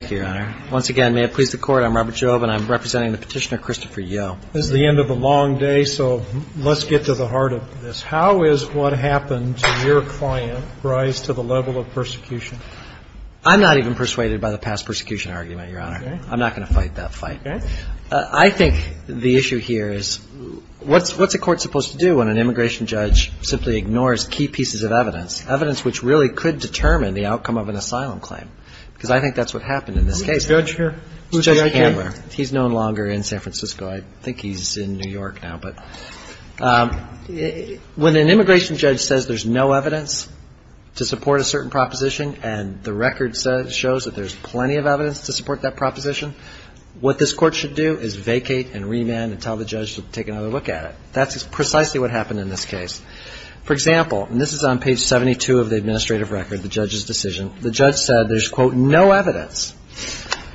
Thank you, Your Honor. Once again, may it please the Court, I'm Robert Jobe, and I'm representing the petitioner Christopher Yeoh. This is the end of a long day, so let's get to the heart of this. How is what happened to your client's rise to the level of persecution? I'm not even persuaded by the past persecution argument, Your Honor. I'm not going to fight that fight. I think the issue here is what's a court supposed to do when an immigration judge simply ignores key pieces of evidence, evidence which really could determine the outcome of an asylum claim, because I think that's what happened in this case. Who's the judge here? Judge Handler. He's no longer in San Francisco. I think he's in New York now. But when an immigration judge says there's no evidence to support a certain proposition and the record shows that there's plenty of evidence to support that proposition, what this Court should do is vacate and remand and tell the judge to take another look at it. That's precisely what happened in this case. For example, and this is on page 72 of the administrative record, the judge's decision, the judge said there's, quote, no evidence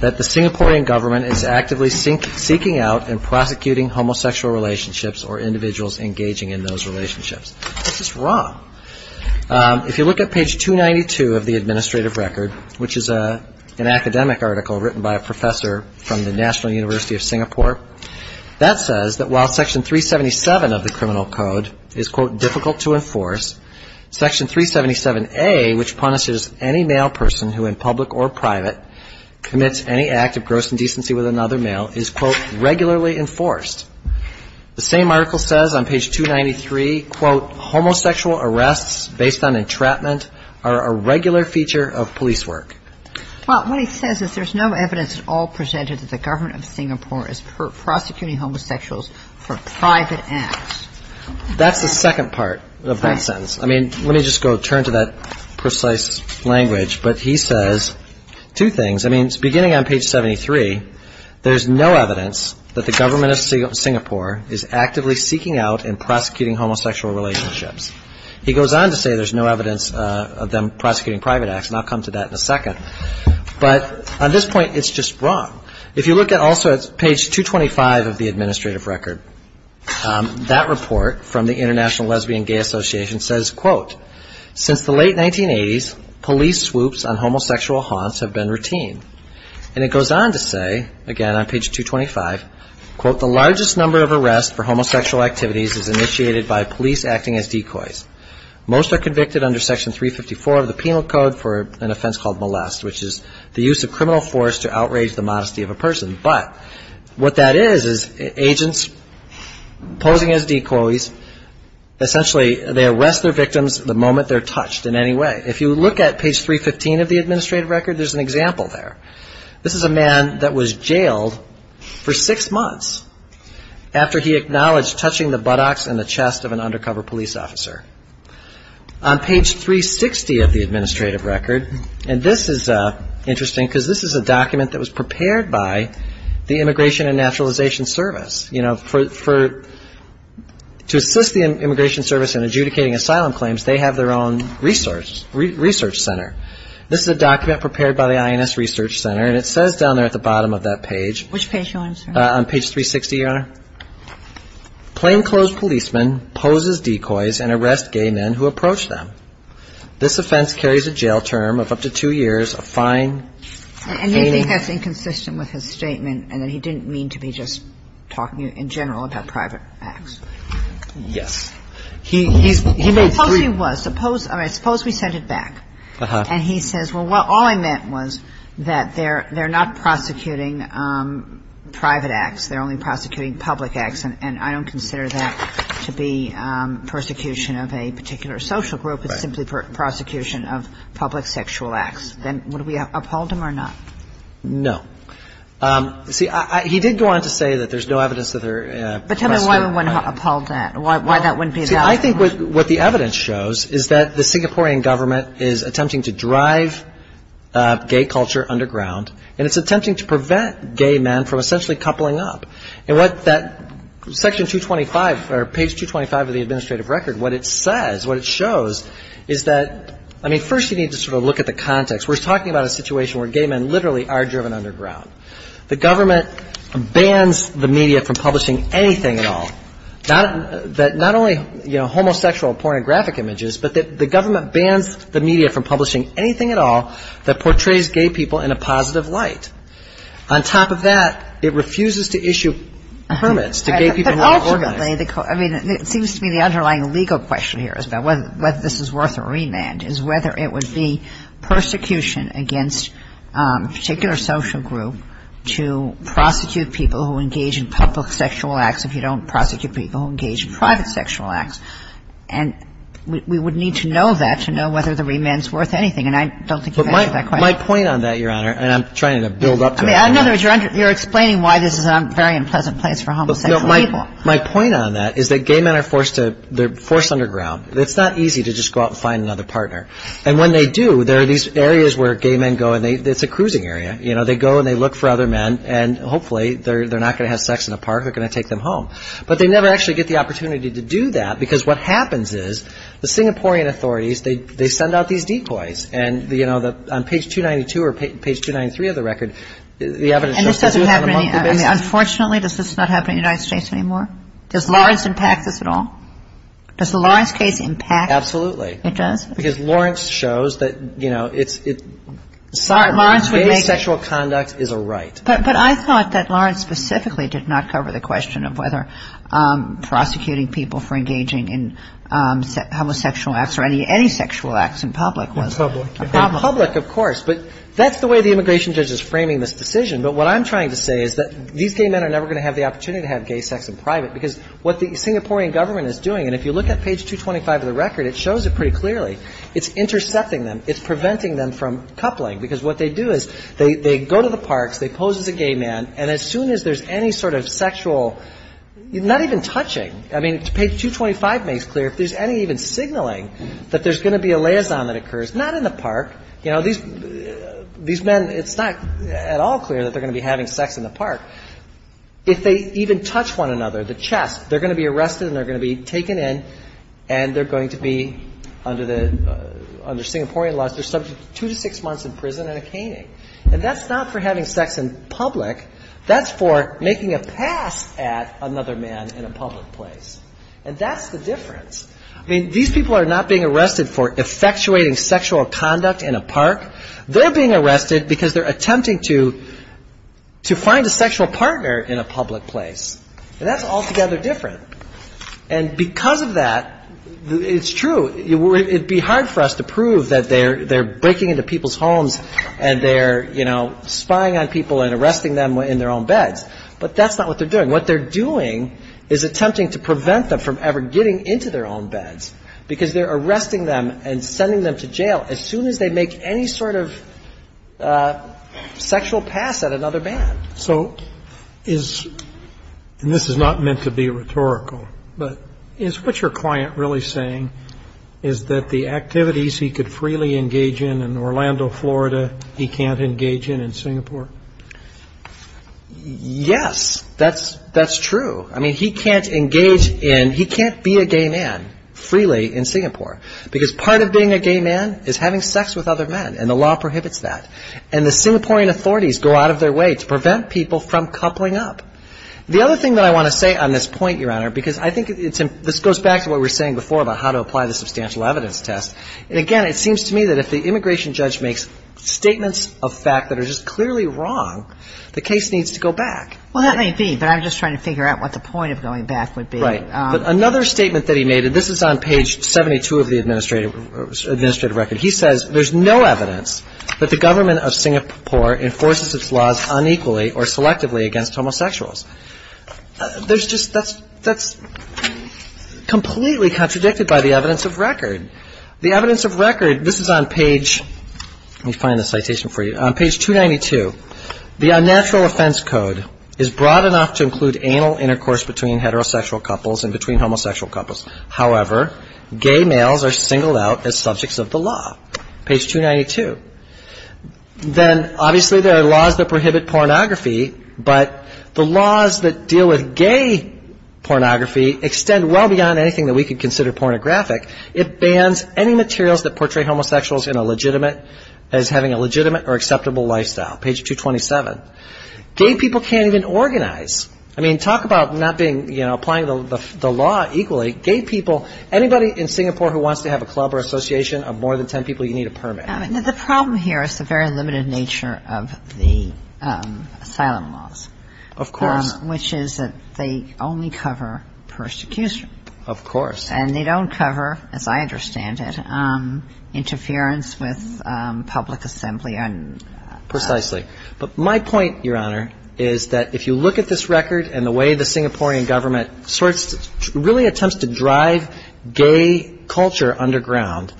that the Singaporean government is actively seeking out and prosecuting homosexual relationships or individuals engaging in those relationships. That's just wrong. If you look at page 292 of the administrative record, which is an academic article written by a professor from the National University of Singapore, that says that while section 377 of the criminal code is, quote, difficult to enforce, section 377A, which punishes any male person who in public or private commits any act of gross indecency with another male, is, quote, regularly enforced. The same article says on page 293, quote, homosexual arrests based on entrapment are a regular feature of police work. Well, what he says is there's no evidence at all presented that the government of Singapore is prosecuting homosexuals for private acts. That's the second part of that sentence. I mean, let me just go turn to that precise language. But he says two things. I mean, beginning on page 73, there's no evidence that the government of Singapore is actively seeking out and prosecuting homosexual relationships. He goes on to say there's no evidence of them prosecuting private acts, and I'll come to that in a second. But on this point, it's just wrong. If you look at also page 225 of the administrative record, that report from the International Lesbian Gay Association says, quote, since the late 1980s, police swoops on homosexual haunts have been routine. And it goes on to say, again on page 225, quote, the largest number of arrests for homosexual activities is initiated by police acting as decoys. Most are convicted under section 354 of the penal code for an offense called molest, which is the use of criminal force to outrage the modesty of a person. But what that is is agents posing as decoys, essentially they arrest their victims the moment they're touched in any way. If you look at page 315 of the administrative record, there's an example there. This is a man that was jailed for six months after he acknowledged touching the buttocks and the chest of an undercover police officer. On page 360 of the administrative record, and this is interesting because this is a document that was prepared by the Immigration and Naturalization Service. You know, to assist the Immigration Service in adjudicating asylum claims, they have their own research center. This is a document prepared by the INS Research Center, and it says down there at the bottom of that page. Which page do you want to show? On page 360, Your Honor. Plainclothes policemen pose as decoys and arrest gay men who approach them. This offense carries a jail term of up to two years of fine. And you think that's inconsistent with his statement and that he didn't mean to be just talking in general about private acts. Yes. He made three. Suppose he was. Suppose we sent it back. And he says, well, all I meant was that they're not prosecuting private acts. They're only prosecuting public acts. And I don't consider that to be persecution of a particular social group. It's simply prosecution of public sexual acts. Then would we have upheld him or not? No. See, he did go on to say that there's no evidence that there are. But tell me why we wouldn't uphold that, why that wouldn't be the outcome. See, I think what the evidence shows is that the Singaporean government is attempting to drive gay culture underground. And it's attempting to prevent gay men from essentially coupling up. And what that section 225 or page 225 of the administrative record, what it says, what it shows, is that, I mean, first you need to sort of look at the context. We're talking about a situation where gay men literally are driven underground. The government bans the media from publishing anything at all, not only, you know, homosexual pornographic images, but the government bans the media from publishing anything at all that portrays gay people in a positive light. On top of that, it refuses to issue permits to gay people who are organized. But ultimately, I mean, it seems to me the underlying legal question here is about whether this is worth a remand, is whether it would be persecution against a particular social group to prosecute people who engage in public sexual acts if you don't prosecute people who engage in private sexual acts. And we would need to know that to know whether the remand's worth anything. And I don't think you answered that question. But my point on that, Your Honor, and I'm trying to build up to it. I mean, in other words, you're explaining why this is a very unpleasant place for homosexual people. My point on that is that gay men are forced to – they're forced underground. It's not easy to just go out and find another partner. And when they do, there are these areas where gay men go and they – it's a cruising area. You know, they go and they look for other men. And hopefully, they're not going to have sex in a park. They're going to take them home. But they never actually get the opportunity to do that because what happens is the Singaporean authorities, they send out these decoys. And, you know, on page 292 or page 293 of the record, the evidence shows – Unfortunately, does this not happen in the United States anymore? Does Lawrence impact this at all? Does the Lawrence case impact? Absolutely. It does? Because Lawrence shows that, you know, gay sexual conduct is a right. But I thought that Lawrence specifically did not cover the question of whether prosecuting people for engaging in homosexual acts or any sexual acts in public was a problem. In public, of course. But that's the way the immigration judge is framing this decision. But what I'm trying to say is that these gay men are never going to have the opportunity to have gay sex in private because what the Singaporean government is doing – and if you look at page 225 of the record, it shows it pretty clearly. It's intercepting them. It's preventing them from coupling. Because what they do is they go to the parks. They pose as a gay man. And as soon as there's any sort of sexual – not even touching. I mean, page 225 makes clear if there's any even signaling that there's going to be a liaison that occurs. Not in the park. You know, these men – it's not at all clear that they're going to be having sex in the park. If they even touch one another, the chest, they're going to be arrested and they're going to be taken in and they're going to be, under Singaporean laws, they're subject to two to six months in prison and a caning. And that's not for having sex in public. That's for making a pass at another man in a public place. And that's the difference. I mean, these people are not being arrested for effectuating sexual conduct in a park. They're being arrested because they're attempting to find a sexual partner in a public place. And that's altogether different. And because of that, it's true, it would be hard for us to prove that they're breaking into people's homes and they're, you know, spying on people and arresting them in their own beds. But that's not what they're doing. What they're doing is attempting to prevent them from ever getting into their own beds because they're arresting them and sending them to jail as soon as they make any sort of sexual pass at another man. So is – and this is not meant to be rhetorical – but is what your client really saying is that the activities he could freely engage in in Orlando, Florida, he can't engage in in Singapore? Yes, that's true. I mean, he can't engage in – he can't be a gay man freely in Singapore because part of being a gay man is having sex with other men and the law prohibits that. And the Singaporean authorities go out of their way to prevent people from coupling up. The other thing that I want to say on this point, Your Honor, because I think it's – this goes back to what we were saying before about how to apply the substantial evidence test. And again, it seems to me that if the immigration judge makes statements of fact that are just clearly wrong, the case needs to go back. Well, that may be, but I'm just trying to figure out what the point of going back would be. Right. But another statement that he made – and this is on page 72 of the administrative record – he says there's no evidence that the government of Singapore enforces its laws unequally or selectively against homosexuals. There's just – that's completely contradicted by the evidence of record. The evidence of record – this is on page – let me find the citation for you. On page 292, the unnatural offense code is broad enough to include anal intercourse between heterosexual couples and between homosexual couples. However, gay males are singled out as subjects of the law. Page 292. Then, obviously, there are laws that prohibit pornography, but the laws that deal with gay pornography extend well beyond anything that we could consider pornographic. It bans any materials that portray homosexuals in a legitimate – as having a legitimate or acceptable lifestyle. Page 227. Gay people can't even organize. I mean, talk about not being – you know, applying the law equally. Gay people – anybody in Singapore who wants to have a club or association of more than ten people, you need a permit. The problem here is the very limited nature of the asylum laws. Of course. Which is that they only cover persecution. Of course. And they don't cover, as I understand it, interference with public assembly and – Precisely. But my point, Your Honor, is that if you look at this record and the way the Singaporean government sorts – really attempts to drive gay culture underground,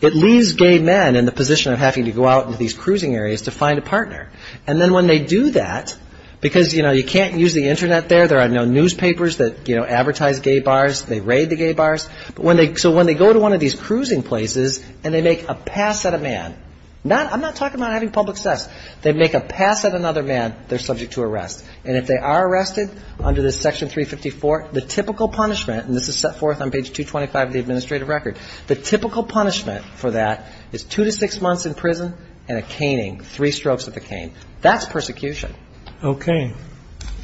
it leaves gay men in the position of having to go out into these cruising areas to find a partner. And then when they do that – because, you know, you can't use the Internet there. There are no newspapers that advertise gay bars. They raid the gay bars. So when they go to one of these cruising places and they make a pass at a man – I'm not talking about having public sex. They make a pass at another man, they're subject to arrest. And if they are arrested under this section 354, the typical punishment – and this is set forth on page 225 of the administrative record – the typical punishment for that is two to six months in prison and a caning, three strokes of the cane. That's persecution. Okay.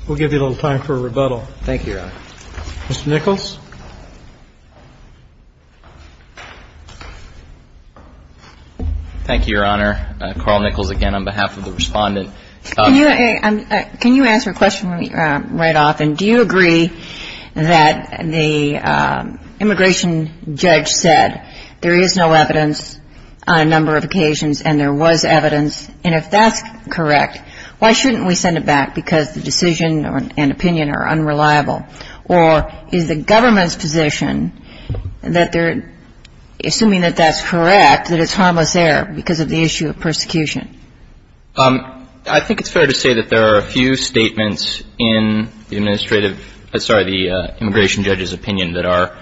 We'll give you a little time for rebuttal. Thank you, Your Honor. Mr. Nichols? Thank you, Your Honor. Carl Nichols again on behalf of the Respondent. Can you answer a question right off? And do you agree that the immigration judge said there is no evidence on a number of occasions and there was evidence? And if that's correct, why shouldn't we send it back because the decision and opinion are unreliable? Or is the government's position that they're assuming that that's correct, that it's harmless error because of the issue of persecution? I think it's fair to say that there are a few statements in the administrative – sorry, the immigration judge's opinion that are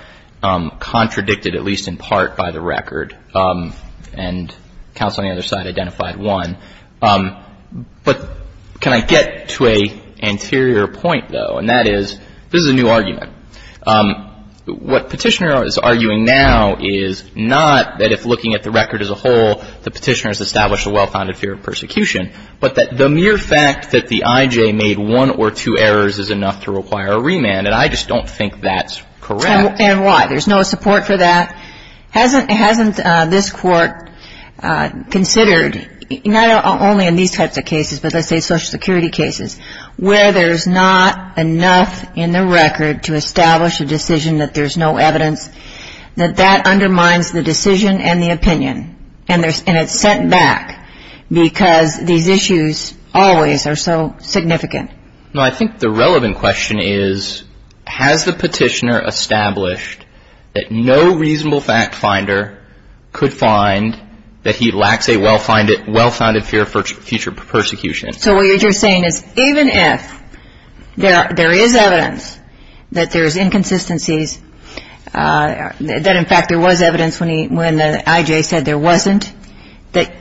contradicted at least in part by the record. And counsel on the other side identified one. But can I get to an anterior point, though? And that is, this is a new argument. What Petitioner is arguing now is not that if looking at the record as a whole, the Petitioner has established a well-founded fear of persecution, but that the mere fact that the IJ made one or two errors is enough to require a remand. And I just don't think that's correct. And why? There's no support for that? Hasn't this court considered, not only in these types of cases, but let's say social security cases, where there's not enough in the record to establish a decision that there's no evidence, that that undermines the decision and the opinion. And it's sent back because these issues always are so significant. No, I think the relevant question is, has the Petitioner established that no reasonable fact finder could find that he lacks a well-founded fear for future persecution? So what you're saying is even if there is evidence that there's inconsistencies, that in fact there was evidence when the IJ said there wasn't, that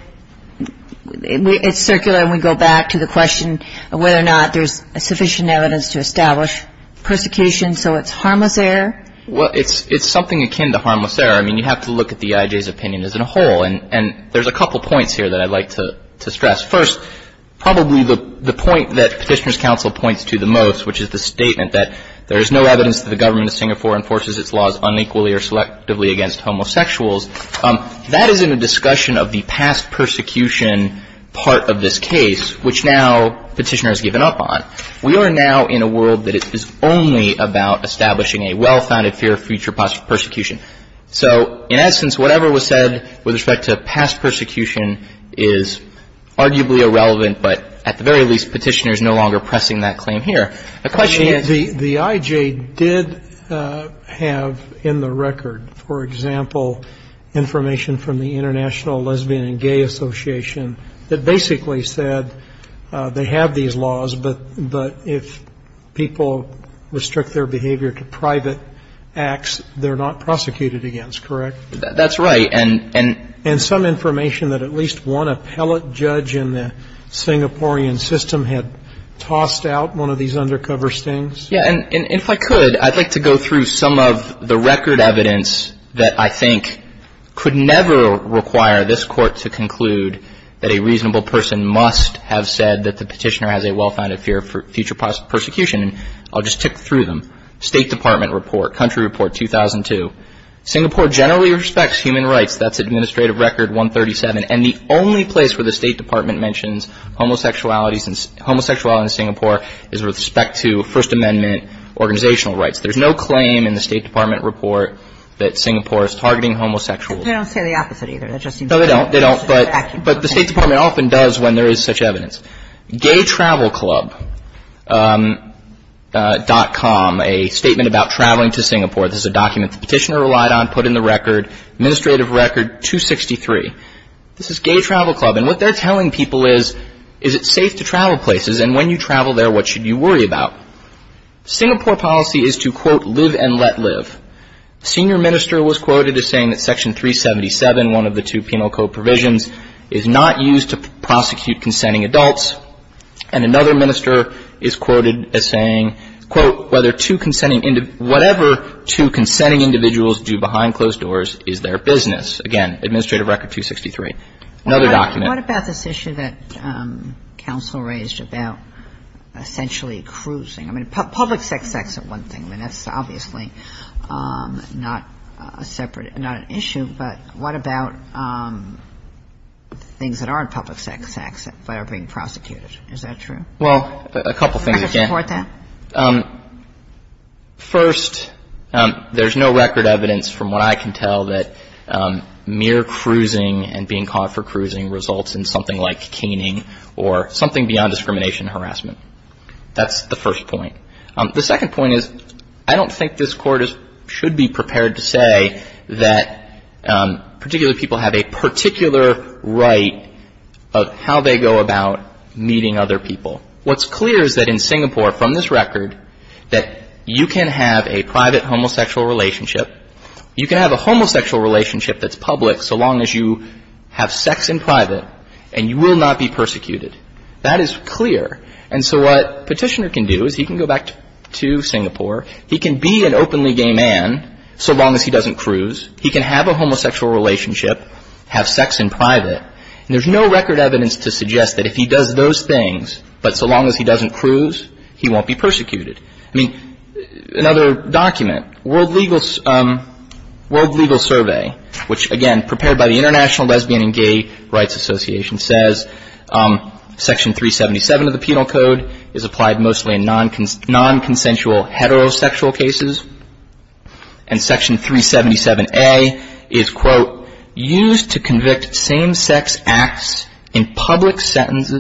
it's circular and we go back to the question of whether or not there's sufficient evidence to establish persecution, so it's harmless error? Well, it's something akin to harmless error. I mean, you have to look at the IJ's opinion as a whole. And there's a couple points here that I'd like to stress. First, probably the point that Petitioner's counsel points to the most, which is the statement that there is no evidence that the government of Singapore enforces its laws unequally or selectively against homosexuals, that is in a discussion of the past persecution part of this case, which now Petitioner has given up on. We are now in a world that is only about establishing a well-founded fear for future persecution. So in essence, whatever was said with respect to past persecution is arguably irrelevant, but at the very least, Petitioner's no longer pressing that claim here. The IJ did have in the record, for example, information from the International Lesbian and Gay Association that basically said they have these laws, but if people restrict their behavior to private acts, they're not prosecuted against, correct? That's right. And some information that at least one appellate judge in the Singaporean system had tossed out one of these undercover stings. Yeah, and if I could, I'd like to go through some of the record evidence that I think could never require this Court to conclude that a reasonable person must have said that the Petitioner has a well-founded fear for future persecution, and I'll just tip through them. State Department report, Country Report 2002. Singapore generally respects human rights. That's Administrative Record 137. And the only place where the State Department mentions homosexuality in Singapore is with respect to First Amendment organizational rights. There's no claim in the State Department report that Singapore is targeting homosexuals. They don't say the opposite either. No, they don't, but the State Department often does when there is such evidence. GayTravelClub.com, a statement about traveling to Singapore. This is a document the Petitioner relied on, put in the record, Administrative Record 263. This is Gay Travel Club, and what they're telling people is, is it safe to travel places, and when you travel there, what should you worry about? Singapore policy is to, quote, live and let live. A senior minister was quoted as saying that Section 377, one of the two penal code provisions, is not used to prosecute consenting adults. And another minister is quoted as saying, quote, whatever two consenting individuals do behind closed doors is their business. Again, Administrative Record 263. Another document. Kagan. What about this issue that counsel raised about essentially cruising? I mean, public sex acts are one thing. I mean, that's obviously not a separate, not an issue, but what about things that aren't public sex acts that are being prosecuted? Is that true? Well, a couple things. Can I support that? First, there's no record evidence from what I can tell that mere cruising and being caught for cruising results in something like caning or something beyond discrimination and harassment. That's the first point. The second point is I don't think this Court should be prepared to say that particular people have a particular right of how they go about meeting other people. What's clear is that in Singapore, from this record, that you can have a private homosexual relationship. You can have a homosexual relationship that's public so long as you have sex in private and you will not be persecuted. That is clear. And so what Petitioner can do is he can go back to Singapore. He can be an openly gay man so long as he doesn't cruise. He can have a homosexual relationship, have sex in private. There's no record evidence to suggest that if he does those things, but so long as he doesn't cruise, he won't be persecuted. I mean, another document, World Legal Survey, which, again, prepared by the International Lesbian and Gay Rights Association, says Section 377 of the Penal Code is applied mostly in non-consensual heterosexual cases and Section 377A is, quote, used to convict same-sex acts in public settings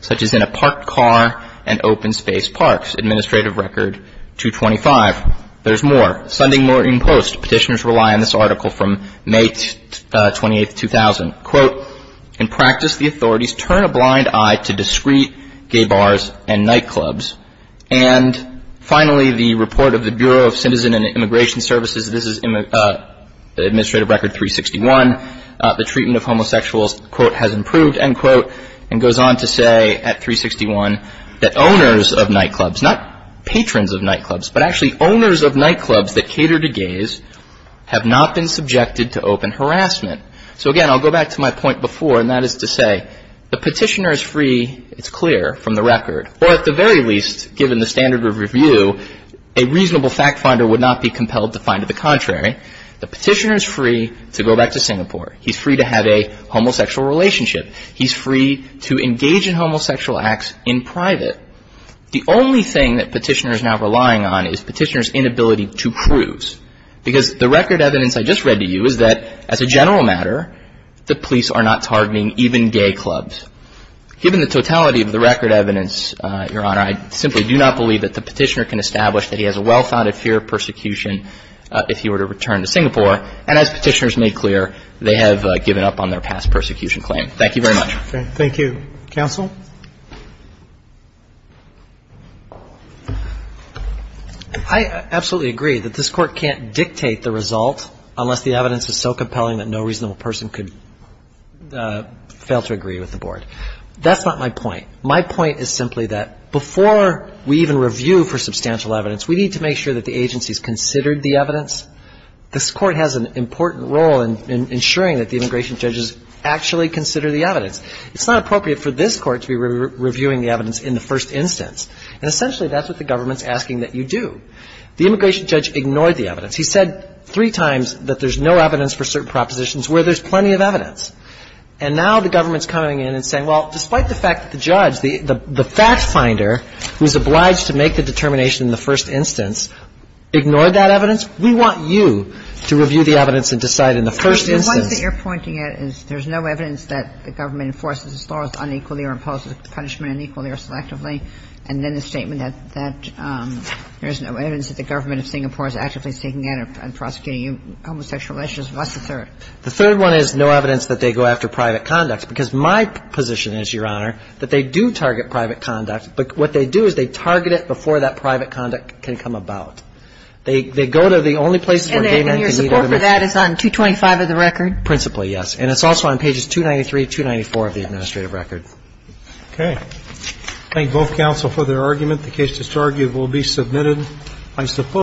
such as in a parked car and open-space parks. Administrative Record 225. There's more. Sending more in post. Petitioners rely on this article from May 28, 2000. Quote, In practice, the authorities turn a blind eye to discreet gay bars and nightclubs. And finally, the report of the Bureau of Citizen and Immigration Services. This is Administrative Record 361. The treatment of homosexuals, quote, has improved, end quote, and goes on to say at 361, that owners of nightclubs, not patrons of nightclubs, but actually owners of nightclubs that cater to gays have not been subjected to open harassment. So, again, I'll go back to my point before, and that is to say the petitioner is free, it's clear from the record, or at the very least, given the standard of review, a reasonable fact finder would not be compelled to find the contrary. The petitioner is free to go back to Singapore. He's free to have a homosexual relationship. He's free to engage in homosexual acts in private. The only thing that petitioner is now relying on is petitioner's inability to prove. Because the record evidence I just read to you is that, as a general matter, the police are not targeting even gay clubs. Given the totality of the record evidence, Your Honor, I simply do not believe that the petitioner can establish that he has a well-founded fear of persecution if he were to return to Singapore. And as petitioners made clear, they have given up on their past persecution claim. Thank you very much. Thank you. Counsel? I absolutely agree that this Court can't dictate the result unless the evidence is so compelling that no reasonable person could fail to agree with the board. That's not my point. My point is simply that before we even review for substantial evidence, we need to make sure that the agency's considered the evidence. This Court has an important role in ensuring that the immigration judges actually consider the evidence. It's not appropriate for this Court to be reviewing the evidence in the first instance. And essentially, that's what the government's asking that you do. The immigration judge ignored the evidence. He said three times that there's no evidence for certain propositions where there's plenty of evidence. And now the government's coming in and saying, well, despite the fact that the judge, the fact finder, who's obliged to make the determination in the first instance, ignored that evidence. We want you to review the evidence and decide in the first instance. The one that you're pointing at is there's no evidence that the government enforces as far as unequally or imposes punishment unequally or selectively. And then the statement that there's no evidence that the government of Singapore is actively seeking out and prosecuting homosexual relationships. What's the third? The third one is no evidence that they go after private conduct. Because my position is, Your Honor, that they do target private conduct, but what they do is they target it before that private conduct can come about. They go to the only places where gay men can meet other men. And your support for that is on 225 of the record? Principally, yes. And it's also on pages 293, 294 of the administrative record. Okay. Thank both counsel for their argument. The case disargued will be submitted, I suppose.